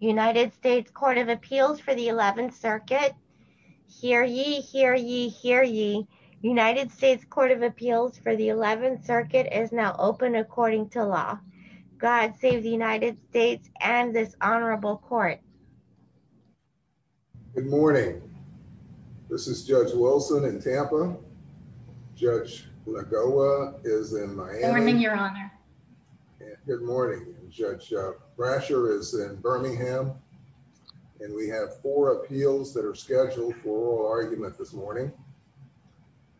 United States Court of Appeals for the 11th Circuit. Hear ye, hear ye, hear ye. United States Court of Appeals for the 11th Circuit is now open according to law. God save the United States and this honorable court. Good morning. This is Judge Wilson in Tampa. Judge Lagoa is in Miami. Good morning, Your Honor. Good morning. Judge Brasher is in Birmingham and we have four appeals that are scheduled for oral argument this morning.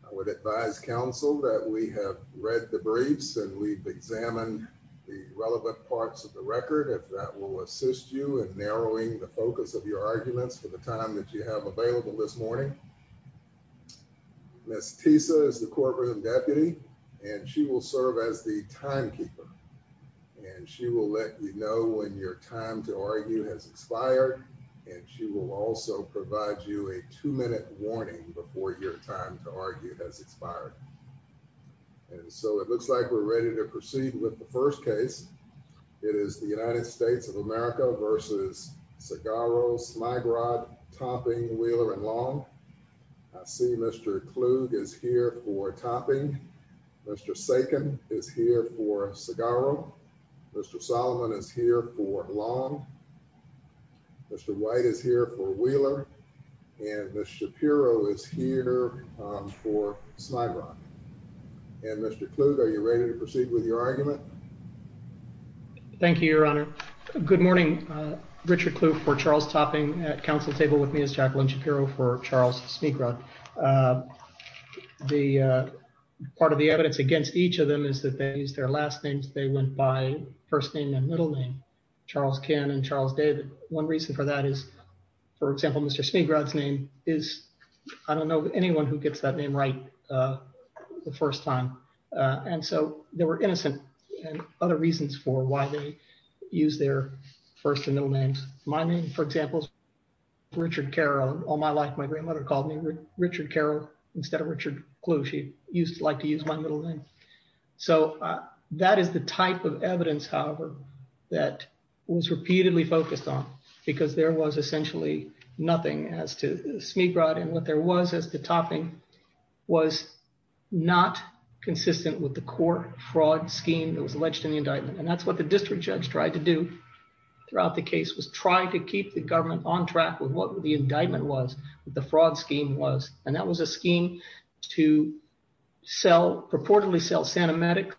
I would advise counsel that we have read the briefs and we've examined the relevant parts of the record if that will assist you in narrowing the focus of your arguments for the time that you have available this morning. Ms. Tisa is the courtroom deputy and she will serve as the timekeeper and she will let you know when your time to argue has expired and she will also provide you a two-minute warning before your time to argue has expired. And so it looks like we're ready to proceed with the first case. It is the United States of America v. Segarro, Sligrod, Tomping, Wheeler, and Long. I see Mr. Klug is here for Topping. Mr. Sakin is here for Segarro. Mr. Solomon is here for Long. Mr. White is here for Wheeler and Ms. Shapiro is here for Sligrod. And Mr. Klug, are you ready to proceed with your argument? Thank you, Your Honor. Good morning. Richard Klug for Charles Topping at counsel table with me is Jacqueline Shapiro for Charles Sligrod. The part of the evidence against each of them is that they used their last names. They went by first name and middle name, Charles Ken and Charles David. One reason for that is, for example, Mr. Sligrod's name is, I don't know anyone who gets that name right the first time. And so they were innocent and other reasons for why they used their first and middle names. My name, for example, is Richard Carroll. All my life, my grandmother called me Richard Carroll instead of Richard Klug. She used to like to use my middle name. So that is the type of evidence, however, that was repeatedly focused on because there was essentially nothing as to Sligrod and what there was as to Topping was not consistent with the court fraud scheme that was alleged in the indictment. And that's what the district judge tried to do throughout the case was try to keep the government on track with what the indictment was, what the fraud scheme was. And that was a scheme to sell, purportedly sell, Sanimatic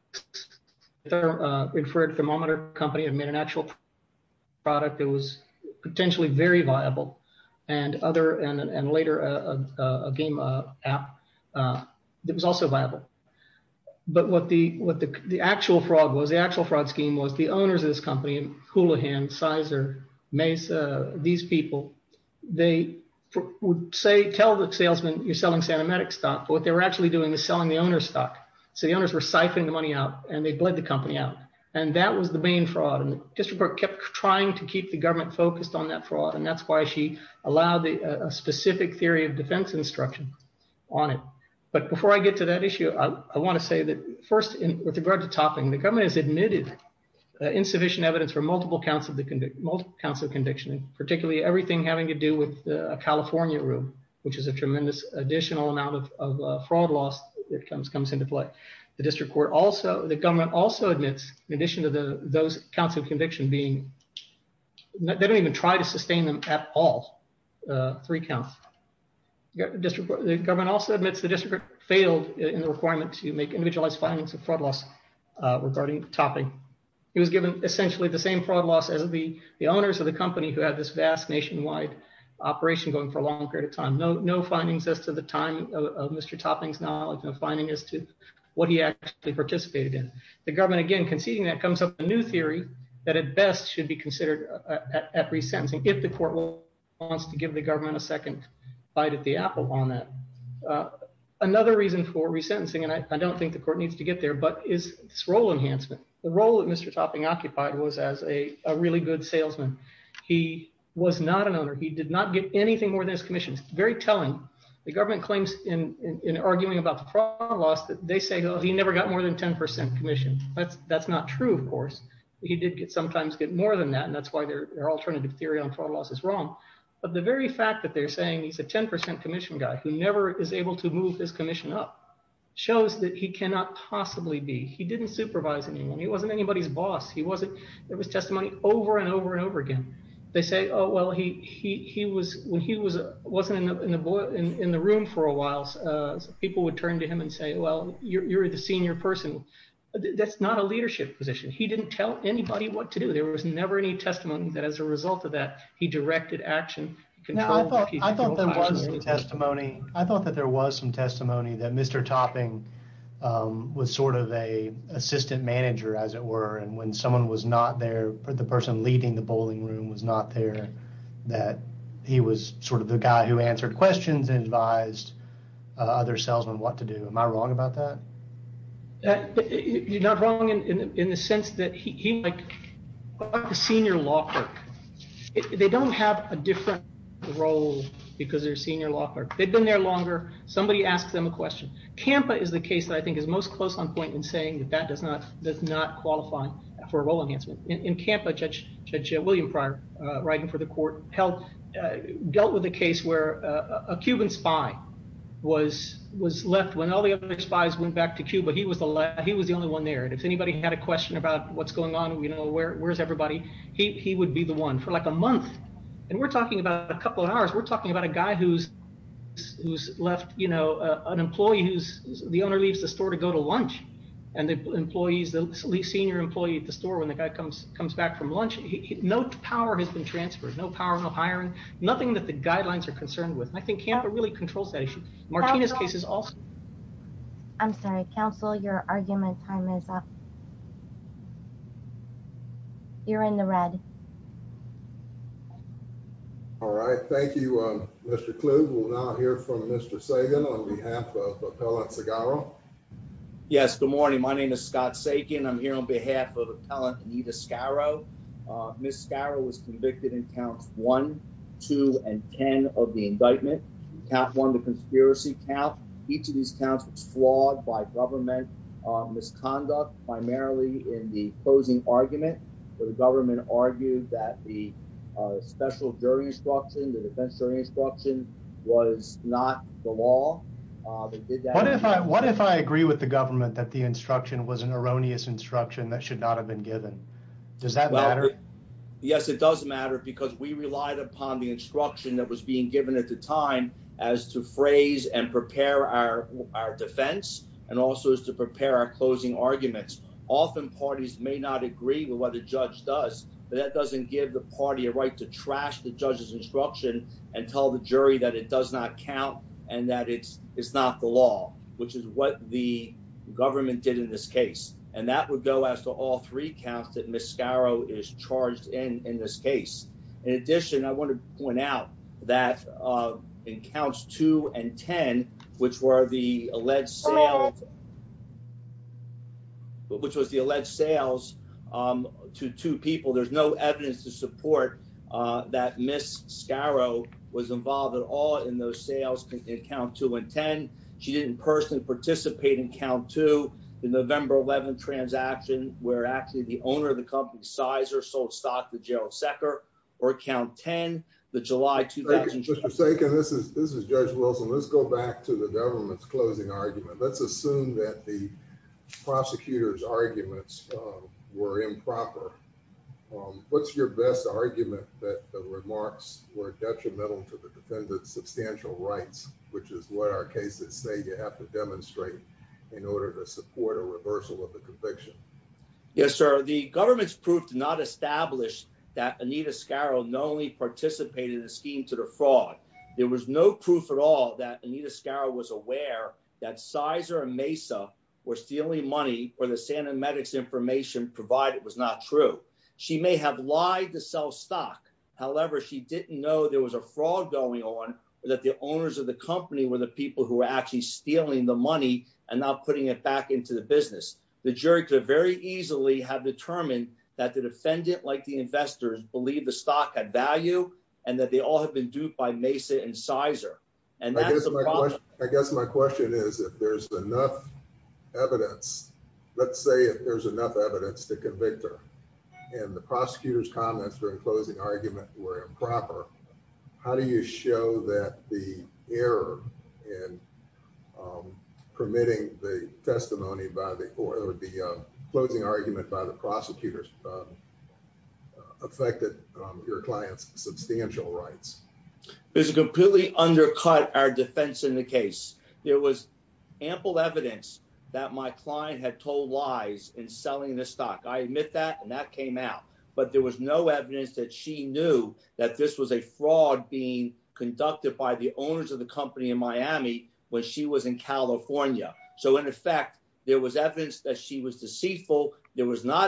inferred thermometer company and made an actual product that was potentially very viable and other and later a game app that was also viable. But what the actual fraud was, the actual fraud in the company, Coulahan, Sizer, Mesa, these people, they would say, tell the salesman, you're selling Sanimatic stock. What they were actually doing is selling the owner's stock. So the owners were siphoning the money out and they bled the company out. And that was the main fraud. And the district court kept trying to keep the government focused on that fraud. And that's why she allowed a specific theory of defense instruction on it. But before I get to that multiple counts of conviction, particularly everything having to do with a California room, which is a tremendous additional amount of fraud loss that comes into play. The district court also, the government also admits in addition to those counts of conviction being, they don't even try to sustain them at all, three counts. The government also admits the district court failed in the requirement to make individualized findings of fraud loss regarding the topic. It was given essentially the same fraud loss as the owners of the company who had this vast nationwide operation going for a long period of time. No findings as to the time of Mr. Topping's knowledge, no finding as to what he actually participated in. The government, again, conceding that comes up with a new theory that at best should be considered at resentencing, if the court wants to give the government a second bite at the apple on that. Another reason for resentencing, and I don't think the court needs to get there, is this role enhancement. The role that Mr. Topping occupied was as a really good salesman. He was not an owner. He did not get anything more than his commission. It's very telling. The government claims in arguing about the fraud loss that they say, he never got more than 10% commission. That's not true, of course. He did sometimes get more than that, and that's why their alternative theory on fraud loss is wrong. But the very fact that they're saying he's a 10% commission guy who never is able to move his commission up shows that he cannot possibly be. He didn't supervise anyone. He wasn't anybody's boss. There was testimony over and over and over again. They say, oh, well, when he wasn't in the room for a while, people would turn to him and say, well, you're the senior person. That's not a leadership position. He didn't tell anybody what to do. There was never any testimony that as a result of that, he directed action. I thought that there was some testimony that Mr. Topping was sort of an assistant manager, as it were, and when someone was not there, the person leading the bowling room was not there, that he was sort of the guy who answered questions and advised other salesmen what to do. Am I wrong about that? They had been there longer. Somebody asked them a question. CAMPA is the case that I think is most close on point in saying that that does not qualify for a role enhancement. In CAMPA, Judge William Pryor, writing for the court, dealt with a case where a Cuban spy was left when all the other spies went back to Cuba. He was the only one there. If anybody had a question about what's going on, where's everybody, he would be the one for like a month, and we're talking about a couple of hours. We're talking about a guy who's left, you know, an employee who's, the owner leaves the store to go to lunch, and the employees, the senior employee at the store, when the guy comes back from lunch, no power has been transferred, no power, no hiring, nothing that the guidelines are concerned with. I think CAMPA really controls that issue. Martina's case is also... I'm sorry, counsel, your argument time is up. You're in the red. All right, thank you, Mr. Kluge. We'll now hear from Mr. Sagan on behalf of Appellant Segaro. Yes, good morning. My name is Scott Sagan. I'm here on behalf of Appellant Anita Segaro. Ms. Segaro was convicted in counts one, two, and ten of the indictment. Count one, the conspiracy count. Each of these counts was flawed by government misconduct, primarily in the closing argument where the government argued that the special jury instruction, the defense jury instruction was not the law. What if I agree with the government that the instruction was an erroneous instruction that should not have been given? Does that matter? Yes, it does matter because we relied and prepare our defense and also is to prepare our closing arguments. Often, parties may not agree with what a judge does, but that doesn't give the party a right to trash the judge's instruction and tell the jury that it does not count and that it's not the law, which is what the government did in this case. And that would go as to all three counts that Ms. Segaro is which were the alleged sales, which was the alleged sales to two people. There's no evidence to support that Ms. Segaro was involved at all in those sales in count two and ten. She didn't personally participate in count two, the November 11th transaction where actually the owner of the company, Sizer, sold stock to to the government's closing argument. Let's assume that the prosecutor's arguments were improper. What's your best argument that the remarks were detrimental to the defendant's substantial rights, which is what our cases say you have to demonstrate in order to support a reversal of the conviction? Yes, sir. The government's proof did not establish that Anita not only participated in the scheme to defraud. There was no proof at all that Anita Segaro was aware that Sizer and Mesa were stealing money or the Santa Medix information provided was not true. She may have lied to sell stock. However, she didn't know there was a fraud going on or that the owners of the company were the people who were actually stealing the money and not putting it back into the business. The jury could very easily have determined that the defendant, like the investors, believed the stock had value and that they all had been duped by Mesa and Sizer. I guess my question is if there's enough evidence, let's say if there's enough evidence to convict her and the prosecutor's comments during closing argument were improper, how do you show that the error in permitting the testimony by the or the closing argument by the prosecutors affected your client's substantial rights? There's a completely undercut our defense in the case. There was ample evidence that my client had told lies in selling the stock. I admit that and that came out, but there was no evidence that she knew that this was a fraud being conducted by the owners of the company in Miami when she was in California. So, not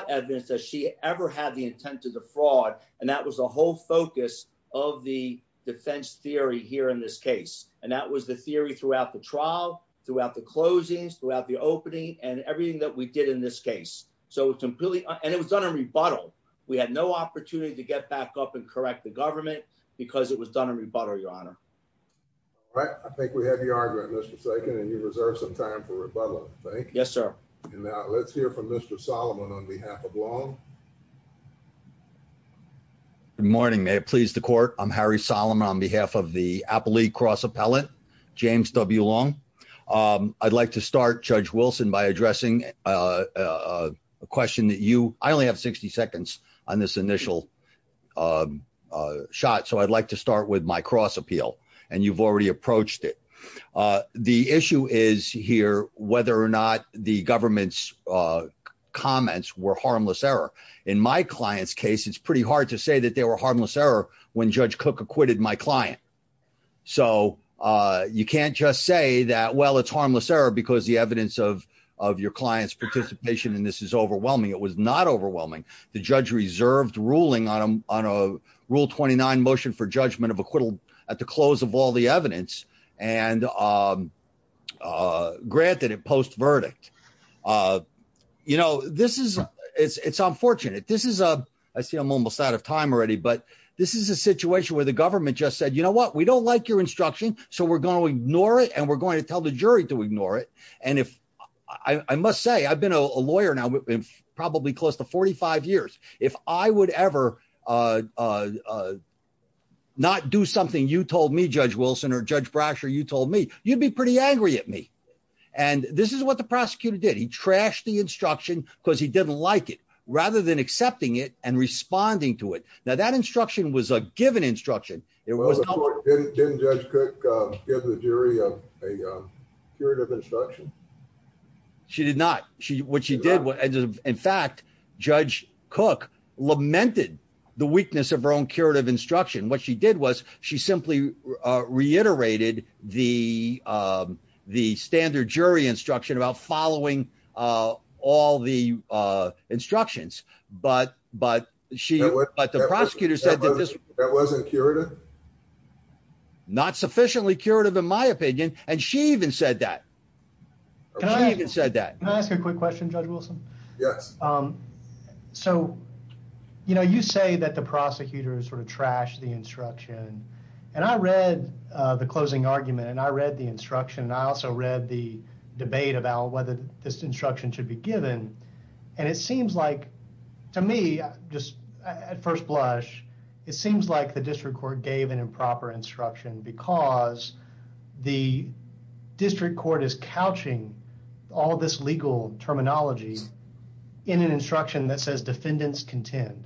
evidence that she ever had the intent to defraud. That was the whole focus of the defense theory here in this case. That was the theory throughout the trial, throughout the closings, throughout the opening, and everything that we did in this case. It was done in rebuttal. We had no opportunity to get back up and correct the government because it was done in rebuttal, Your Honor. All right. I think we have your argument, Mr. Sagan, and you reserved some time for rebuttal. Thank you. Yes, sir. Let's hear from Mr. Solomon on behalf of Long. Good morning. May it please the court. I'm Harry Solomon on behalf of the Apple League Cross Appellate, James W. Long. I'd like to start, Judge Wilson, by addressing a question that you, I only have 60 seconds on this initial shot, so I'd like to start with my first question, which is, why do you think the government's comments were harmless error? In my client's case, it's pretty hard to say that they were harmless error when Judge Cook acquitted my client. So, you can't just say that, well, it's harmless error because the evidence of your client's participation in this is overwhelming. It was not overwhelming. The judge reserved ruling on a Rule 29 motion for judgment of acquittal at the close of all evidence and granted it post-verdict. You know, this is, it's unfortunate. This is a, I see I'm almost out of time already, but this is a situation where the government just said, you know what, we don't like your instruction, so we're going to ignore it and we're going to tell the jury to ignore it. And if, I must say, I've been a lawyer now probably close to 45 years. If I would ever not do something you told me, Judge Wilson, or Judge Brasher, you told me, you'd be pretty angry at me. And this is what the prosecutor did. He trashed the instruction because he didn't like it, rather than accepting it and responding to it. Now, that instruction was a given instruction. Well, of course, didn't Judge Cook give the jury a curative instruction? She did not. What she did, in fact, Judge Cook lamented the weakness of her own curative instruction. What she did was, she simply reiterated the standard jury instruction about following all the instructions. But the prosecutor said that wasn't curative? Not sufficiently curative, in my opinion, and she even said that. Can I even say that? Can I ask a quick question, Judge Wilson? Yes. So, you know, you say that the prosecutor sort of trashed the instruction. And I read the closing argument and I read the instruction and I also read the debate about whether this instruction should be given. And it was not a given instruction. Judge Cook gave an improper instruction because the district court is couching all of this legal terminology in an instruction that says defendants contend.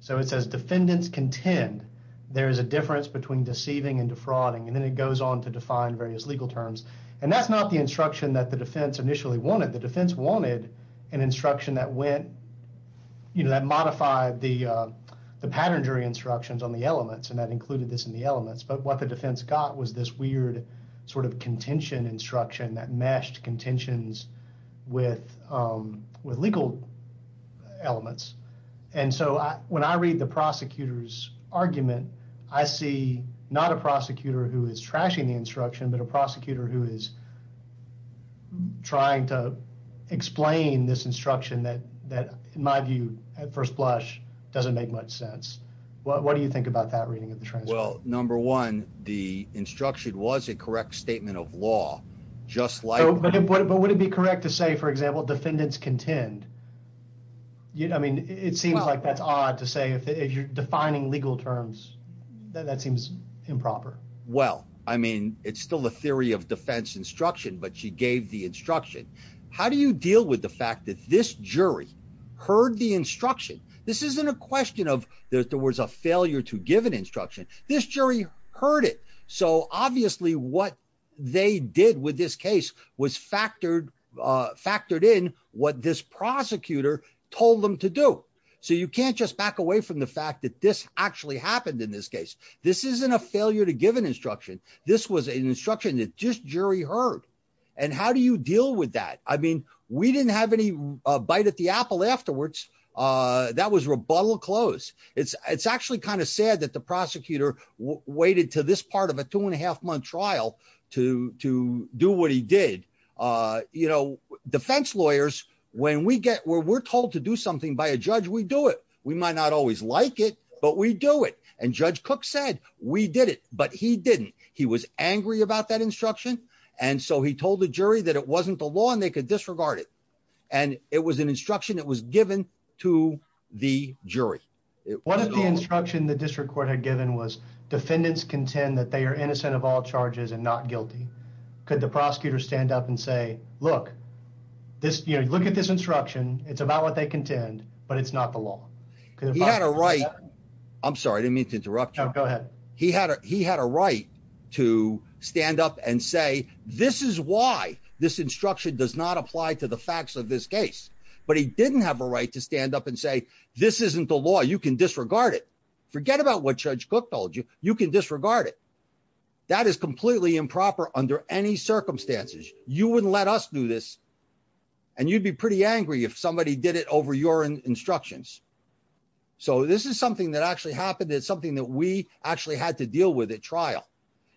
So, it says defendants contend there is a difference between deceiving and defrauding. And then it goes on to define various legal terms. And that's not the instruction that the defense initially wanted. The defense wanted an instruction that went, you know, that modified the pattern jury instructions on the elements and that included this in the elements. But what the defense got was this weird sort of contention instruction that meshed contentions with legal elements. And so, when I read the prosecutor's argument, I see not a prosecutor who is trashing the instruction, but a prosecutor who is trying to explain this instruction that, in my view, at first blush, doesn't make much sense. What do you think about that reading of the transcript? Well, number one, the instruction was a correct statement of law, just like... But would it be correct to say, for example, defendants contend? I mean, it seems like that's odd to say if you're defining legal terms, that seems improper. Well, I mean, it's still a theory of defense instruction, but she gave the instruction. How do you deal with the fact that this jury heard the instruction? This isn't a question of there was a failure to give an instruction. This jury heard it. So, obviously, what they did with this case was factored in what this prosecutor told them to do. So, you can't just back away from the fact that this actually happened in this case. This isn't a failure to give an instruction. This was an instruction that just jury heard. And how do you deal with that? I mean, we didn't have any bite at the apple afterwards. That was rebuttal close. It's actually kind of sad that the prosecutor waited to this part of a two and a half month trial to do what he did. You know, defense lawyers, when we get where we're told to do something by a judge, we do it. We might not always like it, but we do it. And Judge Cook said we did it, but he didn't. He was angry about that instruction. And so he told the jury that it wasn't the law and they could disregard it. And it was an instruction that was given to the jury. One of the instruction the district court had given was defendants contend that they are innocent of all charges and not guilty. Could the prosecutor stand up and say, look, look at this instruction. It's about what they contend, but it's not the law. He had a right. I'm sorry. I didn't mean to interrupt. Go ahead. He had he had a right to stand up and say, this is why this instruction does not apply to the facts of this case. But he didn't have a right to stand up and say, this isn't the law. You can disregard it. Forget about what Judge Cook told you. You can disregard it. That is completely improper under any circumstances. You wouldn't let us do this. And you'd be pretty angry if somebody did it over your instructions. So this is something that actually happened. It's something that we actually had to deal with at trial.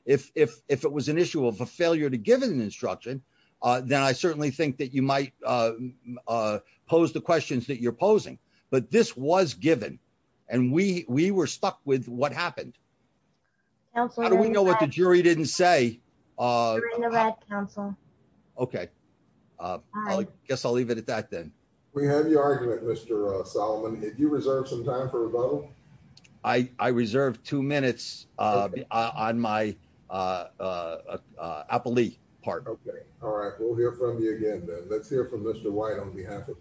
If if if it was an issue of a failure to give an instruction, then I certainly think that you might pose the questions that you're posing. But this was given and we we were stuck with what happened. How do we know what the jury didn't say on the Red Council? OK, I guess I'll leave it at that, then we have your argument, Mr. Solomon. If you reserve some time for a vote, I reserve two minutes on my appellee part. OK. All right. We'll hear from you again. Let's hear from Mr. White on behalf of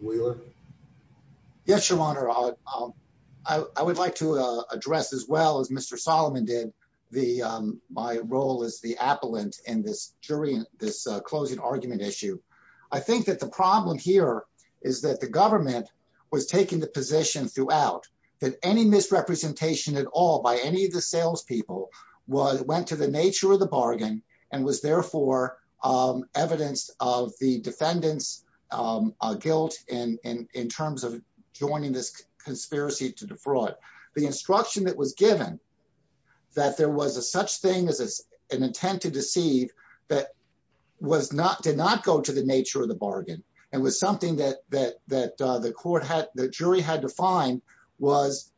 in this jury in this closing argument issue. I think that the problem here is that the government was taking the position throughout that any misrepresentation at all by any of the salespeople was went to the nature of the bargain and was therefore evidence of the defendant's guilt in terms of joining this conspiracy to defraud. The instruction that was given that there was a such thing as an intent to deceive that was not did not go to the nature of the bargain and was something that that that the court had the jury had defined was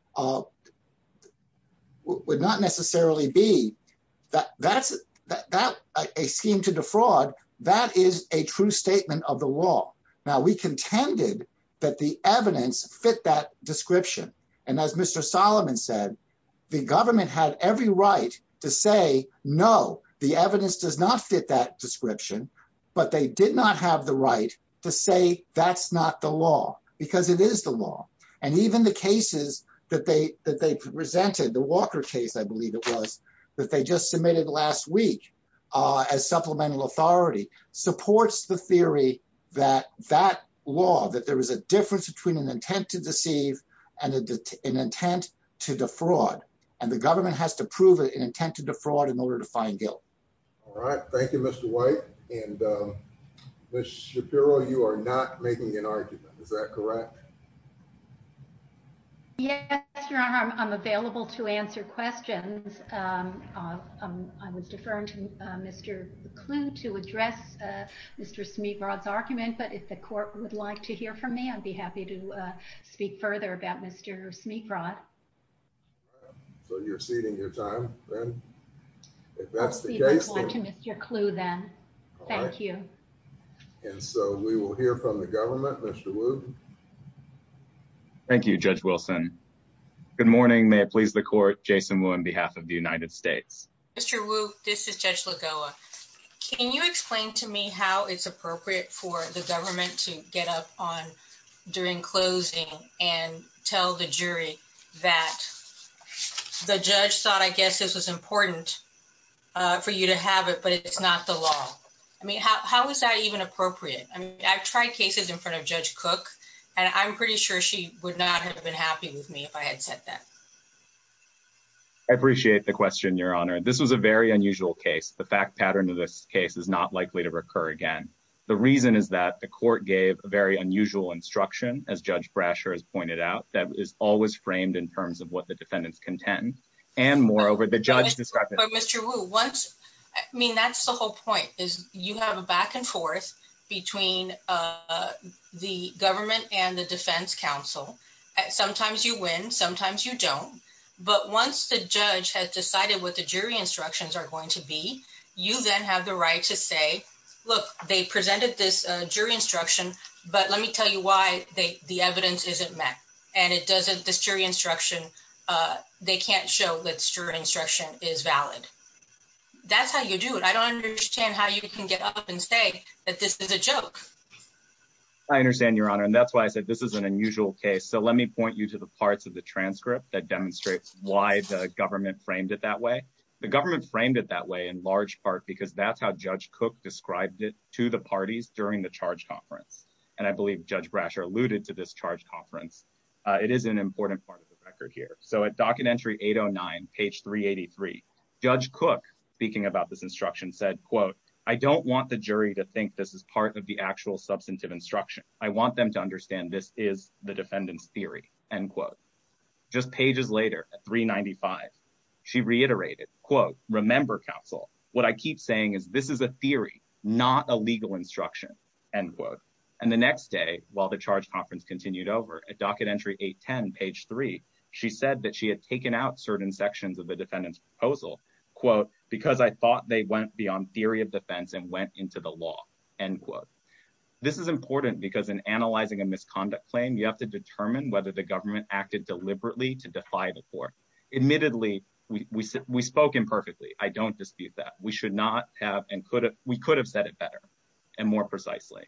would not necessarily be that that's that a scheme to defraud. That is a true statement of the law. Now, we contended that the evidence fit that description. And as Mr. Solomon said, the government had every right to say, no, the evidence does not fit that description, but they did not have the right to say that's not the law because it is the law. And even the cases that they that they presented, the Walker case, I believe it was that they just submitted last week as supplemental authority supports the theory that that law that there is a difference between intent to deceive and an intent to defraud. And the government has to prove an intent to defraud in order to find guilt. All right. Thank you, Mr. White. And Mr. Shapiro, you are not making an argument. Is that correct? Yeah, I'm available to answer questions. I was deferring to Mr. Kluge to address Mr. Smigrod's argument. But if the court would like to hear from me, I'd be happy to speak further about Mr. Smigrod. So you're ceding your time. If that's the case, I'd like to Mr. Kluge then. Thank you. And so we will hear from the government. Thank you, Judge Wilson. Good morning. May it please the court, Jason Wu on behalf of the how it's appropriate for the government to get up on during closing and tell the jury that the judge thought, I guess this was important for you to have it, but it's not the law. I mean, how is that even appropriate? I mean, I've tried cases in front of Judge Cook, and I'm pretty sure she would not have been happy with me if I had said that. I appreciate the question, Your Honor. This was a very unusual case. The fact pattern of this case is not likely to recur again. The reason is that the court gave a very unusual instruction, as Judge Brasher has pointed out, that is always framed in terms of what the defendants contend. And moreover, the judge described it. Mr. Wu, I mean, that's the whole point, is you have a back and forth between the government and the defense counsel. Sometimes you win, sometimes you don't. But once the judge has decided what the jury instructions are going to be, you then have the right to say, look, they presented this jury instruction, but let me tell you why the evidence isn't met. And it doesn't, this jury instruction, they can't show that this jury instruction is valid. That's how you do it. I don't understand how you can get up and say that this is a joke. I understand, Your Honor. And that's why I said this is an unusual case. So let me point you to the parts of the transcript that demonstrate why the government framed it that way. The government framed it that way in large part because that's how Judge Cook described it to the parties during the charge conference. And I believe Judge Brasher alluded to this charge conference. It is an important part of the record here. So at docket entry 809, page 383, Judge Cook, speaking about this instruction, said, quote, I don't want the jury to think this is part of the actual substantive instruction. I want them to She reiterated, quote, remember, counsel, what I keep saying is this is a theory, not a legal instruction, end quote. And the next day, while the charge conference continued over at docket entry 810, page three, she said that she had taken out certain sections of the defendant's proposal, quote, because I thought they went beyond theory of defense and went into the law, end quote. This is important because in analyzing a misconduct claim, you have to determine whether the government acted deliberately to defy the court. Admittedly, we spoke imperfectly. I don't dispute that. We should not have, and we could have said it better and more precisely.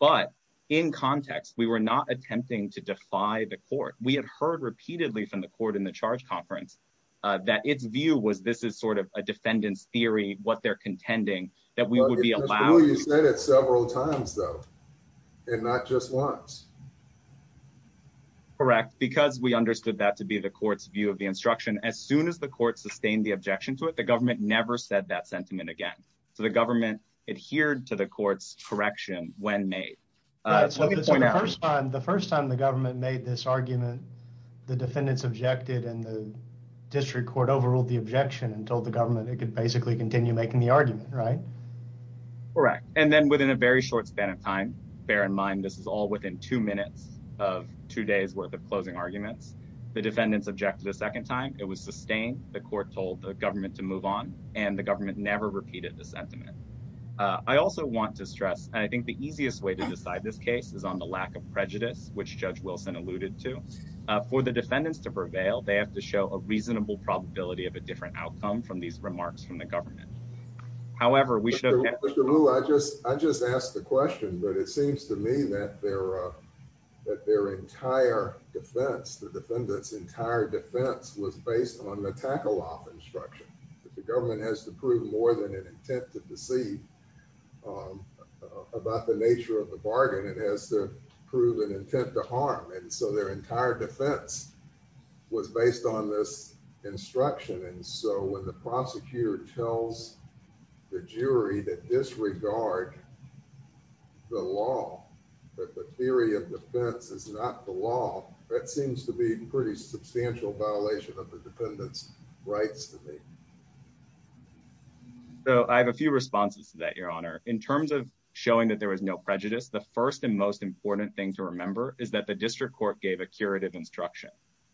But in context, we were not attempting to defy the court. We had heard repeatedly from the court in the charge conference that its view was this is sort of a defendant's theory, what they're contending that we would be allowed. You said it several times, though, and not just once. Correct, because we understood that to be the court's view of the instruction. As soon as the court sustained the objection to it, the government never said that sentiment again. So the government adhered to the court's correction when made. The first time the government made this argument, the defendants objected and the district court overruled the objection and told the government it could basically continue making the argument, right? Correct. And then within a very short span of time, bear in mind this is all within two minutes of two days worth of closing arguments. The defendants objected a second time. It was sustained. The court told the government to move on and the government never repeated the sentiment. I also want to stress, and I think the easiest way to decide this case is on the lack of prejudice, which Judge Wilson alluded to. For the defendants to prevail, they have to show a reasonable probability of a different outcome from these remarks from the government. However, we should. I just I just asked the question, but it seems to me that there that their entire defense, the defendants entire defense was based on the tackle off instruction that the government has to prove more than it intended to see. About the nature of the bargain, it has to prove an intent to harm, and so their entire defense was based on this instruction. And so when the prosecutor tells the jury that disregard the law that the theory of defense is not the law, that seems to be pretty substantial violation of the defendant's rights to me. So I have a few responses to that, Your Honor. In terms of showing that there was no prejudice, the first and most important thing to remember is that the district court gave a curative instruction,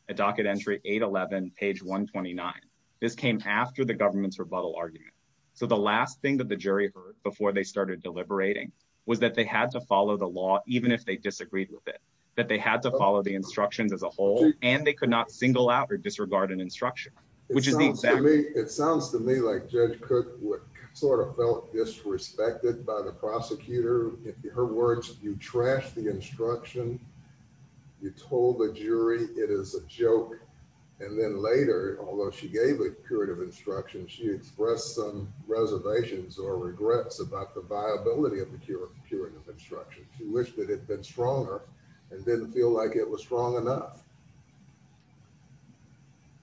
a docket entry 811 page 129. This came after the government's rebuttal argument. So the last thing that the jury heard before they started deliberating was that they had to follow the law, even if they disagreed with it, that they had to follow the instructions as a whole, and they could not single out or disregard an instruction, which is me. It sounds to me like Judge Cook sort of felt disrespected by the prosecutor. Her words, you trash the instruction. You told the jury it is a joke. And then later, although she gave a curative instruction, she expressed some reservations or regrets about the viability of the curative instruction. She wished it had been stronger and didn't feel like it was strong enough.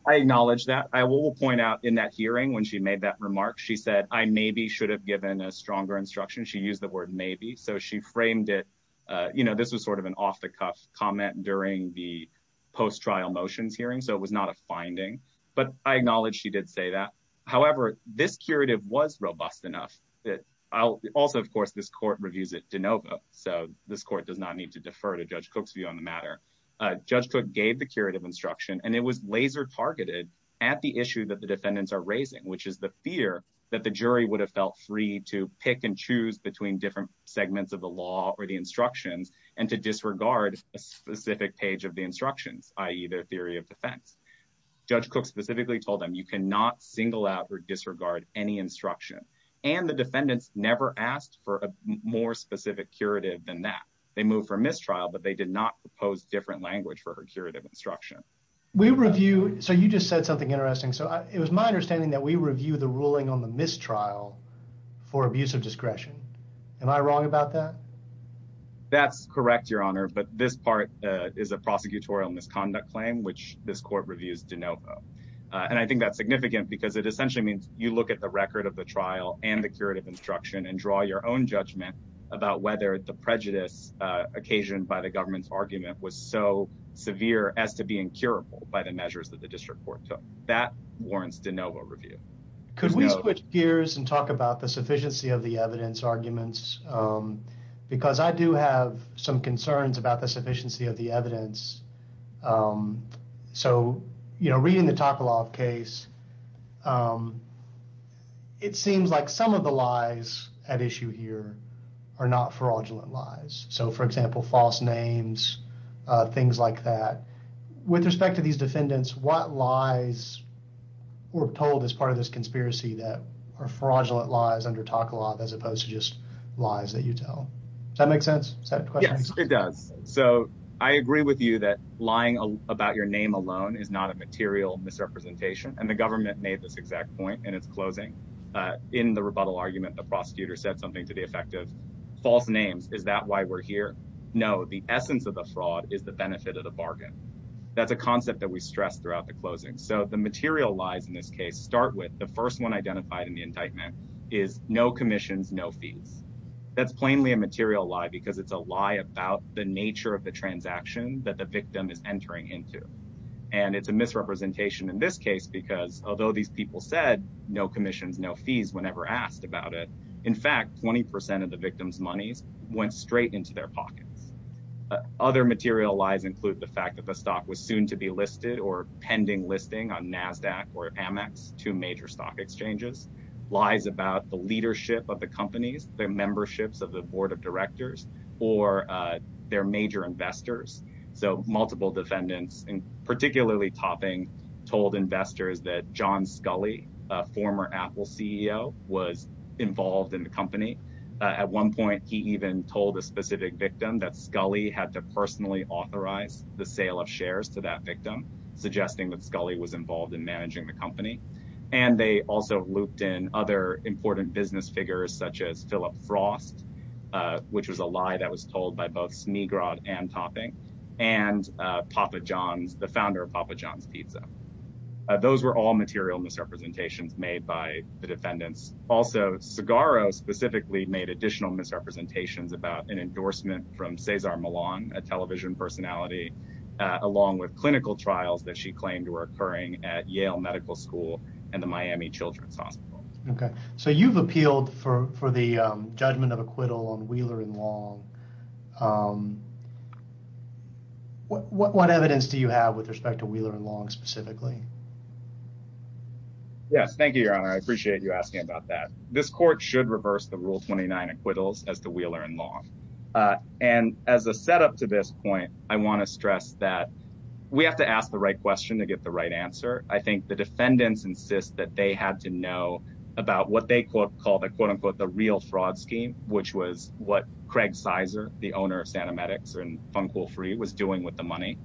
I acknowledge that. I will point out in that hearing when she made that so she framed it. This was sort of an off the cuff comment during the post trial motions hearing. So it was not a finding, but I acknowledge she did say that. However, this curative was robust enough that I'll also, of course, this court reviews it to Nova. So this court does not need to defer to Judge Cook's view on the matter. Judge Cook gave the curative instruction and it was laser targeted at the issue that the defendants are raising, which is the fear that the jury would have felt free to pick and choose between different segments of the law or the instructions and to disregard a specific page of the instructions, i.e. their theory of defense. Judge Cook specifically told them you cannot single out or disregard any instruction. And the defendants never asked for a more specific curative than that. They moved for mistrial, but they did not propose different language for her curative instruction. We review. So you just said something interesting. So it was my understanding that we review the ruling on the mistrial for abuse of discretion. Am I wrong about that? That's correct, Your Honor. But this part is a prosecutorial misconduct claim, which this court reviews to Nova. And I think that's significant because it essentially means you look at the record of the trial and the curative instruction and draw your own judgment about whether the prejudice occasioned by the government's argument was so severe as to be incurable by the measures that the district court took. That warrants de novo review. Could we switch gears and talk about the sufficiency of the evidence arguments? Because I do have some concerns about the sufficiency of the evidence. So, you know, reading the talk a lot of case, it seems like some of the lies at issue here are not fraudulent lies. So, for example, false names, things like that. With respect to these defendants, what lies were told as part of this conspiracy that are fraudulent lies under talk a lot as opposed to just lies that you tell? Does that make sense? It does. So I agree with you that lying about your name alone is not a material misrepresentation. And the government made this exact point in its closing. In the rebuttal argument, the prosecutor said something to the effect of false names. Is that why we're here? No. The essence of the fraud is the benefit of the bargain. That's a concept that we stress throughout the closing. So the material lies in this case start with the first one identified in the indictment is no commissions, no fees. That's plainly a material lie because it's a lie about the nature of the transaction that the victim is entering into. And it's a misrepresentation in this case because although these people said no commissions, no fees, whenever asked about it, in fact, 20 percent of the victim's monies went straight into their pockets. Other material lies include the fact that the stock was soon to be listed or pending listing on Nasdaq or Amex, two major stock exchanges, lies about the leadership of the companies, their memberships of the board of directors or their major investors. So multiple defendants particularly topping told investors that John Scully, a former Apple CEO, was involved in the company. At one point, he even told a specific victim that Scully had to personally authorize the sale of shares to that victim, suggesting that Scully was involved in managing the company. And they also looped in other important business figures such as Philip Frost, which was a lie that was told by both Snigrod and Topping, and Papa John's, the founder of Papa John's Pizza. Those were all material misrepresentations made by the defendants. Also, Segarro specifically made additional misrepresentations about an endorsement from Cesar Millan, a television personality, along with clinical trials that she claimed were occurring at Yale Medical School and the Miami Children's Hospital. Okay, so you've appealed for the judgment of acquittal on Wheeler & Long. What evidence do you have with respect to Wheeler & Long specifically? Yes, thank you, Your Honor. I appreciate you asking about that. This court should reverse the Rule 29 acquittals as to Wheeler & Long. And as a setup to this point, I want to stress that we have to ask the right question to get the right answer. I think the defendants insist that they had to know about what they call the quote, unquote, the real fraud scheme, which was what Craig Sizer, the owner of Santa Medix and Funko Free was doing with the money.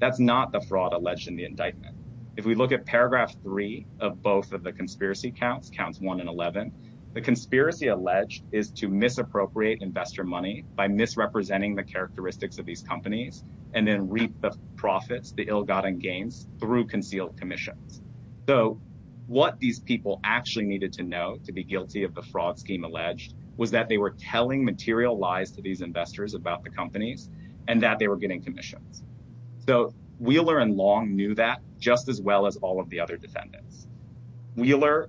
That's not the fraud alleged in the indictment. If we look at paragraph three of both of the conspiracy counts, counts one and 11, the conspiracy alleged is to misappropriate investor money by misrepresenting the characteristics of these companies, and then reap the profits, the ill-gotten gains through concealed commissions. So what these people actually needed to know to be guilty of the fraud scheme alleged was that they were telling material lies to these investors about the companies and that they were getting commissions. So Wheeler & Long knew that just as well as all of the other defendants. Wheeler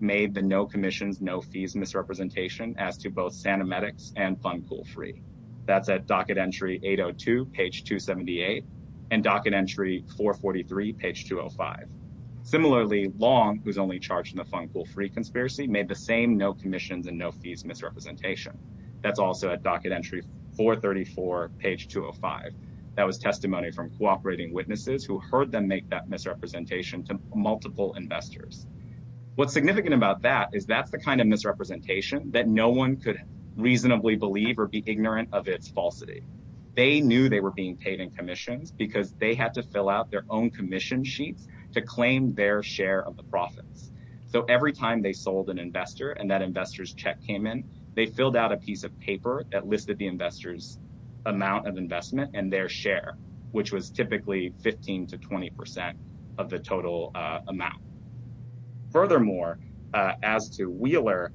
made the no commissions, no fees misrepresentation as to both Santa Medix and Funko Free. That's at docket entry 802, page 278, and docket entry 443, page 205. Similarly, Long, who's only charged in the Funko Free conspiracy, made the same no commissions and no fees misrepresentation. That's also at docket entry 434, page 205. That was testimony from cooperating witnesses who heard them make that misrepresentation to multiple investors. What's significant about that is that's the kind of misrepresentation that no one could reasonably believe or be ignorant of its falsity. They knew they were being paid in commissions because they had to fill out their own commission sheets to claim their share of the profits. So every time they sold an investor and that investor's check came in, they filled out a piece of paper that listed the investor's amount of investment and their share, which was typically 15 to 20% of the total amount. Furthermore, as to Wheeler,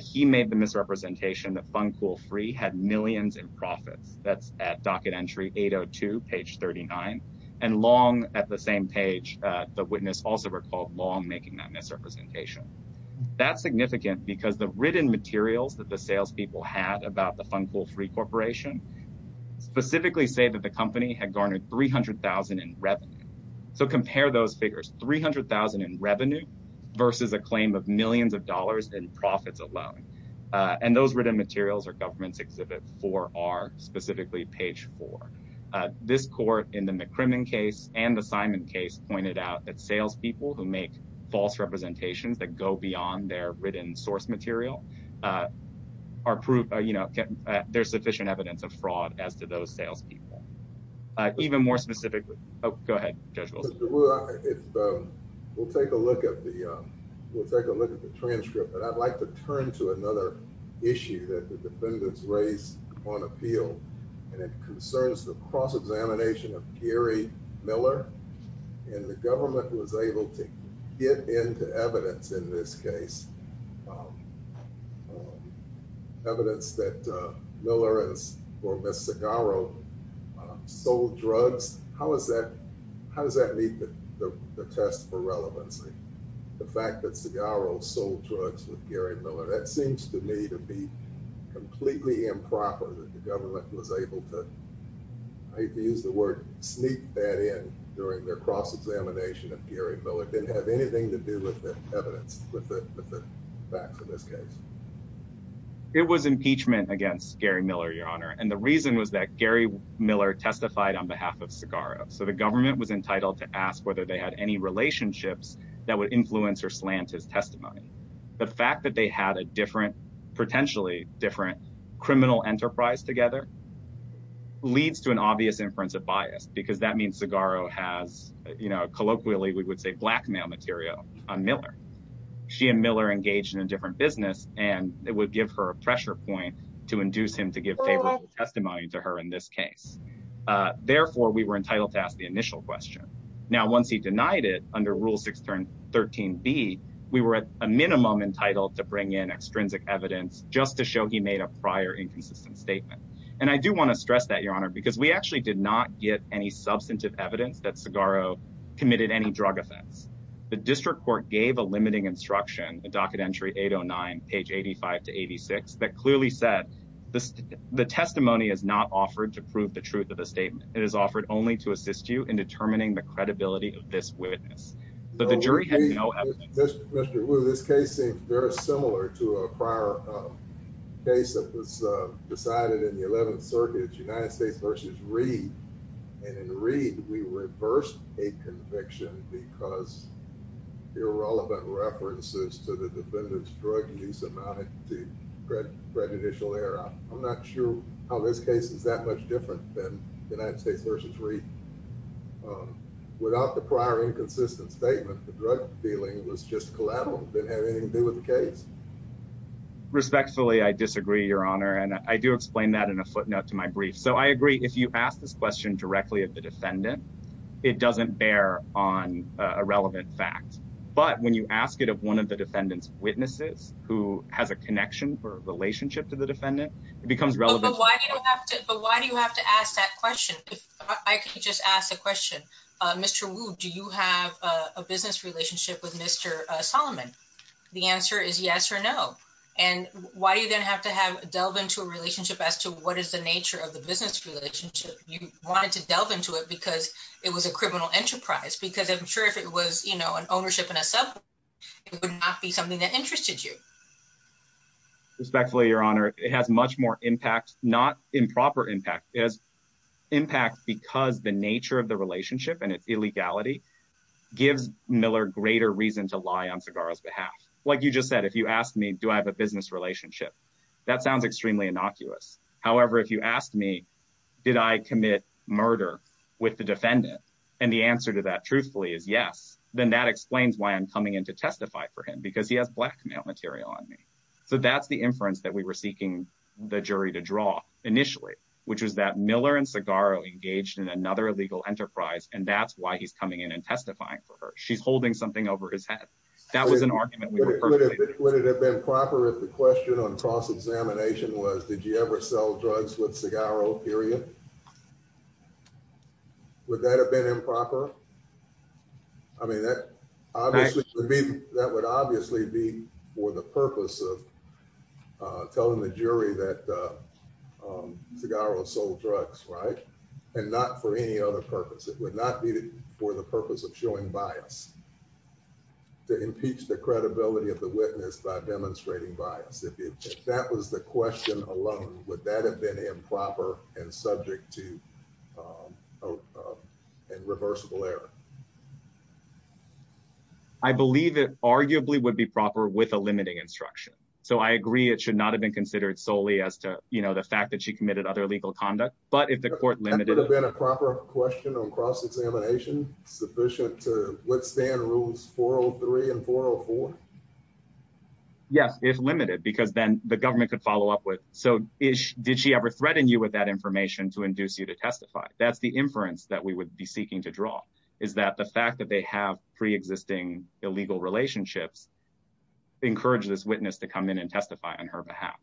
he made the misrepresentation that Funko Free had millions in profits. That's at docket entry 802, page 39. And Long, at the same page, the witness also recalled Long making that misrepresentation. That's significant because the written materials that the salespeople had about the Funko Free Corporation specifically say that the company had garnered $300,000 in revenue. So compare those alone. And those written materials are government's exhibit four are specifically page four. This court in the McCrimmon case and the Simon case pointed out that salespeople who make false representations that go beyond their written source material are proved, you know, there's sufficient evidence of fraud as to those salespeople. Even more specifically, go ahead. We'll take a look at the, we'll take a look at the transcript. But I'd like to turn to another issue that the defendants raised on appeal. And it concerns the cross examination of Gary Miller. And the government was able to get into evidence in this case. Evidence that Miller or Ms. Segaro sold drugs. How is that, how does that meet the test for relevancy? The fact that Segaro sold drugs with Gary Miller, that seems to me to be completely improper that the government was able to, I hate to use the word, sneak that in during their cross examination of Gary Miller. Didn't have anything to do with the evidence, with the facts. In this case, it was impeachment against Gary Miller, Your Honor. And the reason was that Gary Miller testified on behalf of Segaro. So the government was entitled to ask whether they had any relationships that would influence or slant his testimony. The fact that they had a different, potentially different criminal enterprise together leads to an obvious inference of bias, because that means Segaro has, you know, colloquially we would say blackmail material on Miller. She and Miller engaged in a different business, and it would give her a pressure point to induce him to give favorable testimony to her in this case. Therefore, we were entitled to ask the initial question. Now, once he denied it under Rule 6, Turn 13B, we were at a minimum entitled to bring in extrinsic evidence just to show he made a prior inconsistent statement. And I do want to stress that, Your Honor, because we actually did not get any substantive evidence that Segaro committed any drug offense. The district court gave a limiting instruction, the docket entry 809, page 85 to 86, that clearly said the testimony is not offered to prove the truth of the statement. It is offered only to assist you in determining the credibility of this witness. But the jury had no evidence. Mr. Wu, this case seems very similar to a prior case that was decided in the 11th Circuit, United States v. Reed. And in Reed, we reversed a conviction because irrelevant references to the defendant's drug use amounted to prejudicial error. I'm not sure how this case is that much different than United States v. Reed. Without the prior inconsistent statement, the drug dealing was just collateral, that had anything to do with the case. Respectfully, I disagree, Your Honor, and I do explain that in a footnote to my brief. So I agree, if you ask this question directly at the defendant, it doesn't bear on a relevant fact. But when you ask it of one of the defendant's witnesses who has a connection or relationship to the defendant, it becomes relevant. But why do you have to ask that question? If I could just ask the question, Mr. Wu, do you have a business relationship with Mr. Solomon? The answer is yes or no. And why do you then have to delve into a relationship as to what is the nature of the business relationship? You wanted to delve into it because it was a criminal enterprise, because I'm sure if it was, you know, an ownership in a sub, it would not be something that interested you. Respectfully, Your Honor, it has much more impact, not improper impact. It has impact because the nature of the relationship and its illegality gives Miller greater reason to lie on Segarra's behalf. Like you just said, if you asked me, do I have a business relationship? That sounds extremely innocuous. However, if you asked me, did I commit murder with the defendant? And the answer to that truthfully is yes. Then that explains why I'm coming in to testify for him, because he has blackmail material on me. So that's the inference that we were seeking the jury to draw initially, which was that Miller and Segarra engaged in another legal enterprise. And that's why he's coming in and testifying for her. She's holding something over his head. That was an argument. Would it have been proper if the question on cross-examination was, did you ever sell drugs with Segarra period? Would that have been improper? I mean, that that would obviously be for the purpose of telling the jury that Segarra sold drugs, right? And not for any other purpose. It would not be for the purpose of showing bias to impeach the credibility of the witness by demonstrating bias. If that was the question alone, would that have been improper and subject to a reversible error? I believe it arguably would be proper with a limiting instruction. So I agree, it should not have been considered solely as to the fact that she committed other legal conduct, but if the court limited... Would that have been a proper question on cross-examination sufficient to withstand rules 403 and 404? Yes, if limited, because then the government could follow up with, so did she ever threaten you with that information to induce you to testify? That's the inference that we would be seeking to draw, is that the fact that they have pre-existing illegal relationships encourage this witness to come in and testify on her behalf.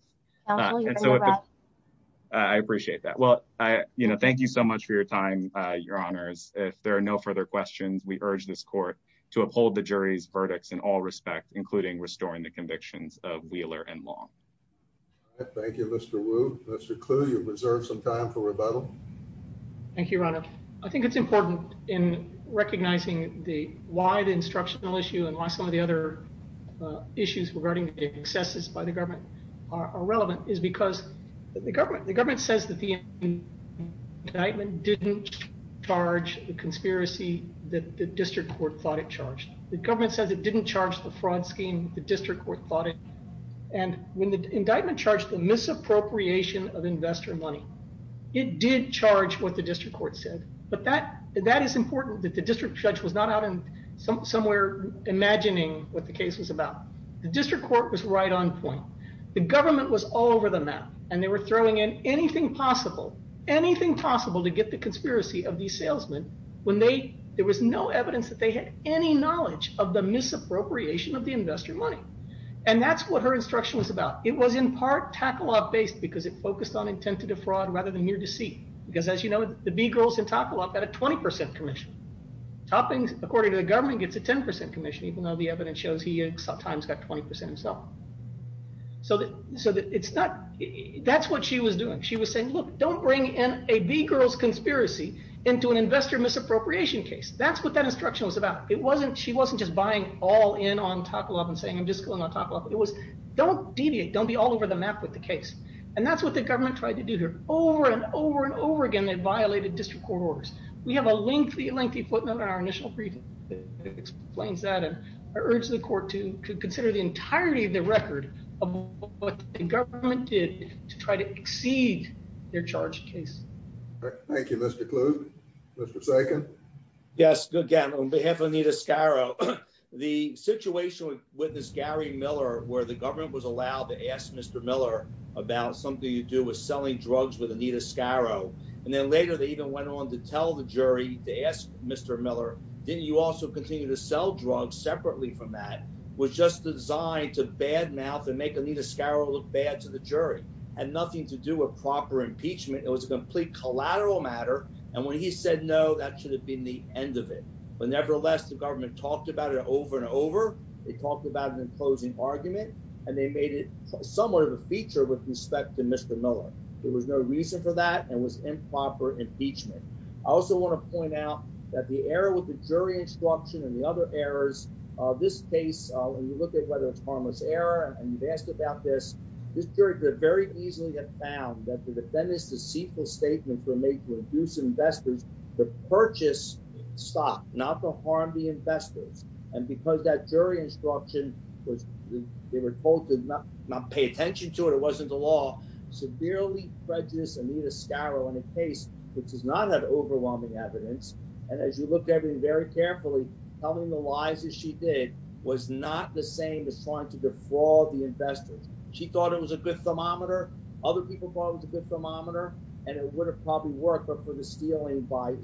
I appreciate that. Well, thank you so much for your time, Your Honors. If there are no further questions, we urge this court to uphold the jury's verdicts in all respect, including restoring the convictions of Wheeler and Long. Thank you, Mr. Wu. Mr. Clue, you've reserved some time for rebuttal. Thank you, Your Honor. I think it's why some of the other issues regarding the excesses by the government are relevant, is because the government says that the indictment didn't charge the conspiracy that the district court thought it charged. The government says it didn't charge the fraud scheme the district court thought it, and when the indictment charged the misappropriation of investor money, it did charge what the district court said, but that is important that the district judge was not somewhere imagining what the case was about. The district court was right on point. The government was all over the map, and they were throwing in anything possible, anything possible to get the conspiracy of these salesmen when there was no evidence that they had any knowledge of the misappropriation of the investor money. That's what her instruction was about. It was in part tackle-off based because it focused on intent to defraud rather than mere deceit, because as you can see, Begirls and Tackle-Off got a 20% commission. Toppings, according to the government, gets a 10% commission, even though the evidence shows he at times got 20% himself. That's what she was doing. She was saying, look, don't bring in a Begirls conspiracy into an investor misappropriation case. That's what that instruction was about. She wasn't just buying all in on Tackle-Off and saying, I'm just going on Tackle-Off. It was, don't deviate. Don't be all over the map with the case, and that's what the government tried to do over and over and over again. They violated district court orders. We have a lengthy, lengthy footnote in our initial briefing that explains that, and I urge the court to consider the entirety of the record of what the government did to try to exceed their charge case. Thank you, Mr. Kluge. Mr. Sagan. Yes, again, on behalf of Anita Sciro, the situation with this Gary Miller, where the government was allowed to ask Mr. Miller about something to do with selling drugs with Anita Sciro, and then later they even went on to tell the jury to ask Mr. Miller, didn't you also continue to sell drugs separately from that, was just designed to badmouth and make Anita Sciro look bad to the jury. Had nothing to do with proper impeachment. It was a complete collateral matter, and when he said no, that should have been the end of it. But nevertheless, the government talked about it over and over. They talked about it in closing argument, and they made it somewhat of a feature with respect to Mr. Miller. There was no reason for that, and it was improper impeachment. I also want to point out that the error with the jury instruction and the other errors of this case, when you look at whether it's harmless error, and you've asked about this, this jury could very easily have found that the defendant's deceitful statements were made to induce investors to purchase stock, not to harm the investors. And because that jury instruction was, they were told to not pay attention to it, it wasn't the law, severely prejudiced Anita Sciro in a case which does not have overwhelming evidence. And as you look at it very carefully, telling the lies that she did was not the same as trying to defraud the investors. She thought it was a good thermometer. Other people thought it was a good thermometer, and it would have probably worked, but for the stealing by in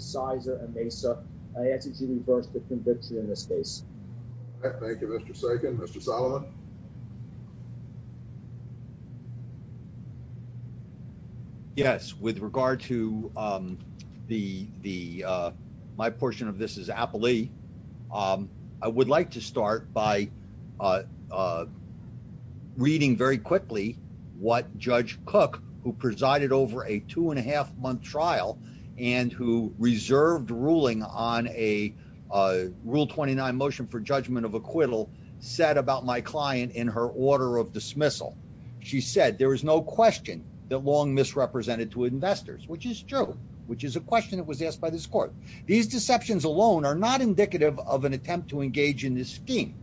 this case. Thank you, Mr. Sagan. Mr. Solomon. Yes, with regard to the, my portion of this is Appley. I would like to start by reading very quickly what Judge Cook, who presided over a two and a half month trial, and who reserved ruling on a rule 29 motion for judgment of acquittal, said about my client in her order of dismissal. She said, there is no question that long misrepresented to investors, which is true, which is a question that was asked by this court. These deceptions alone are not indicative of an attempt to engage in this scheme.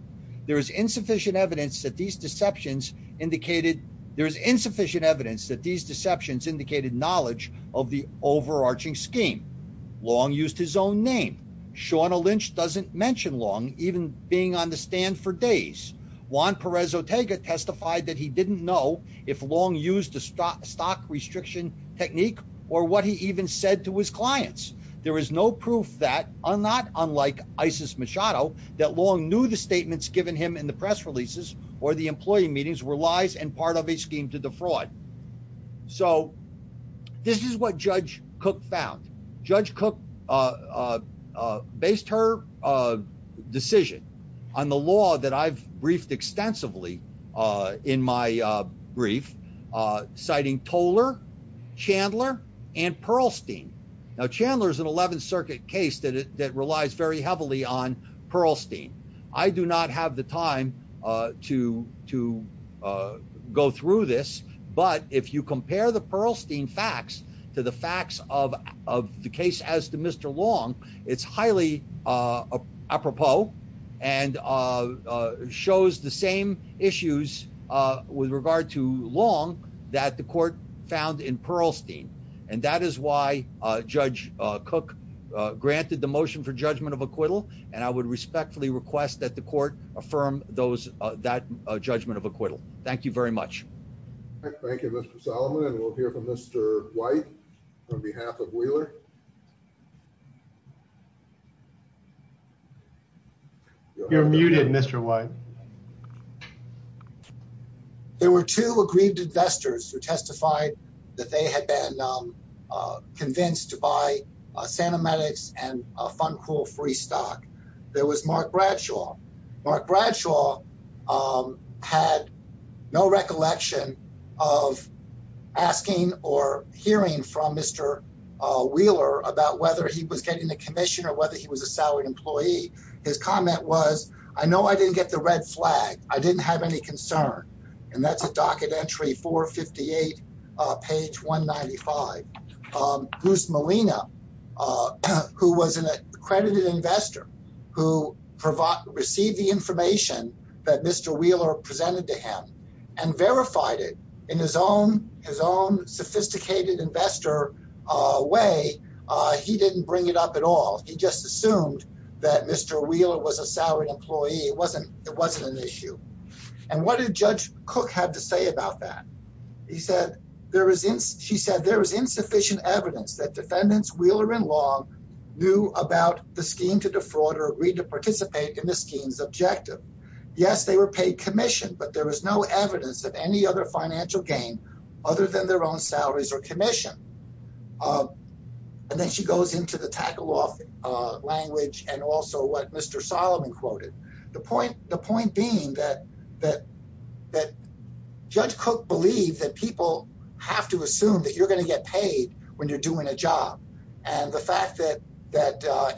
There is insufficient evidence that these deceptions indicated, there is insufficient evidence that these deceptions indicated knowledge of the overarching scheme. Long used his own name. Shawna Lynch doesn't mention long even being on the stand for days. Juan Perez Otega testified that he didn't know if long used the stock restriction technique or what he even said to his clients. There is no proof that, not unlike Isis Machado, that long knew the statements given him in the press releases or the employee meetings were lies and part of a scheme to defraud. So this is what Judge Cook found. Judge Cook based her decision on the law that I've briefed extensively in my brief, citing Toller, Chandler, and Pearlstein. Now Chandler is an 11th Circuit case that relies very heavily on Pearlstein. I do not have the time to go through this, but if you compare the Pearlstein facts to the facts of the case as to Mr. Long, it's highly apropos and shows the same issues with regard to long that the court found in Pearlstein, and that is why Judge Cook granted the motion for judgment of acquittal, and I would respectfully request that the court affirm those that judgment of acquittal. Thank you very much. Thank you, Mr Solomon, and we'll hear from Mr White on behalf of Wheeler. You're muted, Mr White. There were two aggrieved investors who testified that they had been convinced to buy Santa Medix and a Funcool free stock. There was Mark Bradshaw. Mark Bradshaw had no recollection of asking or hearing from Mr Wheeler about whether he was getting the commission or whether he was a I didn't have any concern, and that's at docket entry 458 page 195. Bruce Molina, who was an accredited investor who received the information that Mr Wheeler presented to him and verified it in his own sophisticated investor way, he didn't bring it up at all. He just assumed that Mr Wheeler was a salaried employee. It wasn't an issue, and what did Judge Cook have to say about that? He said there was insufficient evidence that defendants Wheeler and Long knew about the scheme to defraud or agreed to participate in the scheme's objective. Yes, they were paid commission, but there was no evidence of any other financial gain other than their own salaries or commission, and then she goes into the tackle off language and also what Mr Solomon quoted. The point being that Judge Cook believed that people have to assume that you're going to get paid when you're doing a job, and the fact that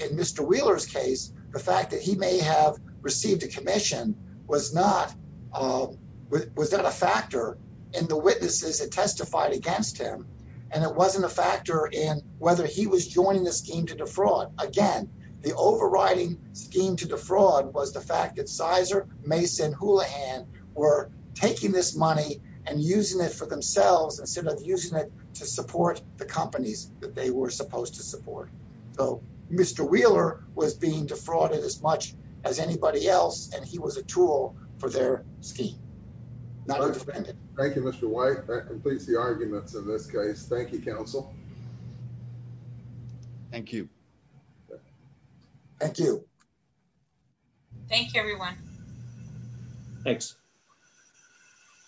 in Mr Wheeler's case, the fact that he may have received a commission was not a factor in the witnesses that testified against him, and it wasn't a factor in whether he was joining the scheme to defraud. Again, the overriding scheme to defraud was the fact that Sizer, Mason, Houlihan were taking this money and using it for themselves instead of using it to support the companies that they were supposed to support. So Mr Wheeler was being defrauded as much as anybody else, and he was a tool for their scheme. Not a defendant. Thank you, Mr White. That completes the arguments in this case. Thank you, counsel. Thank you. Thank you. Thank you, everyone. Thanks.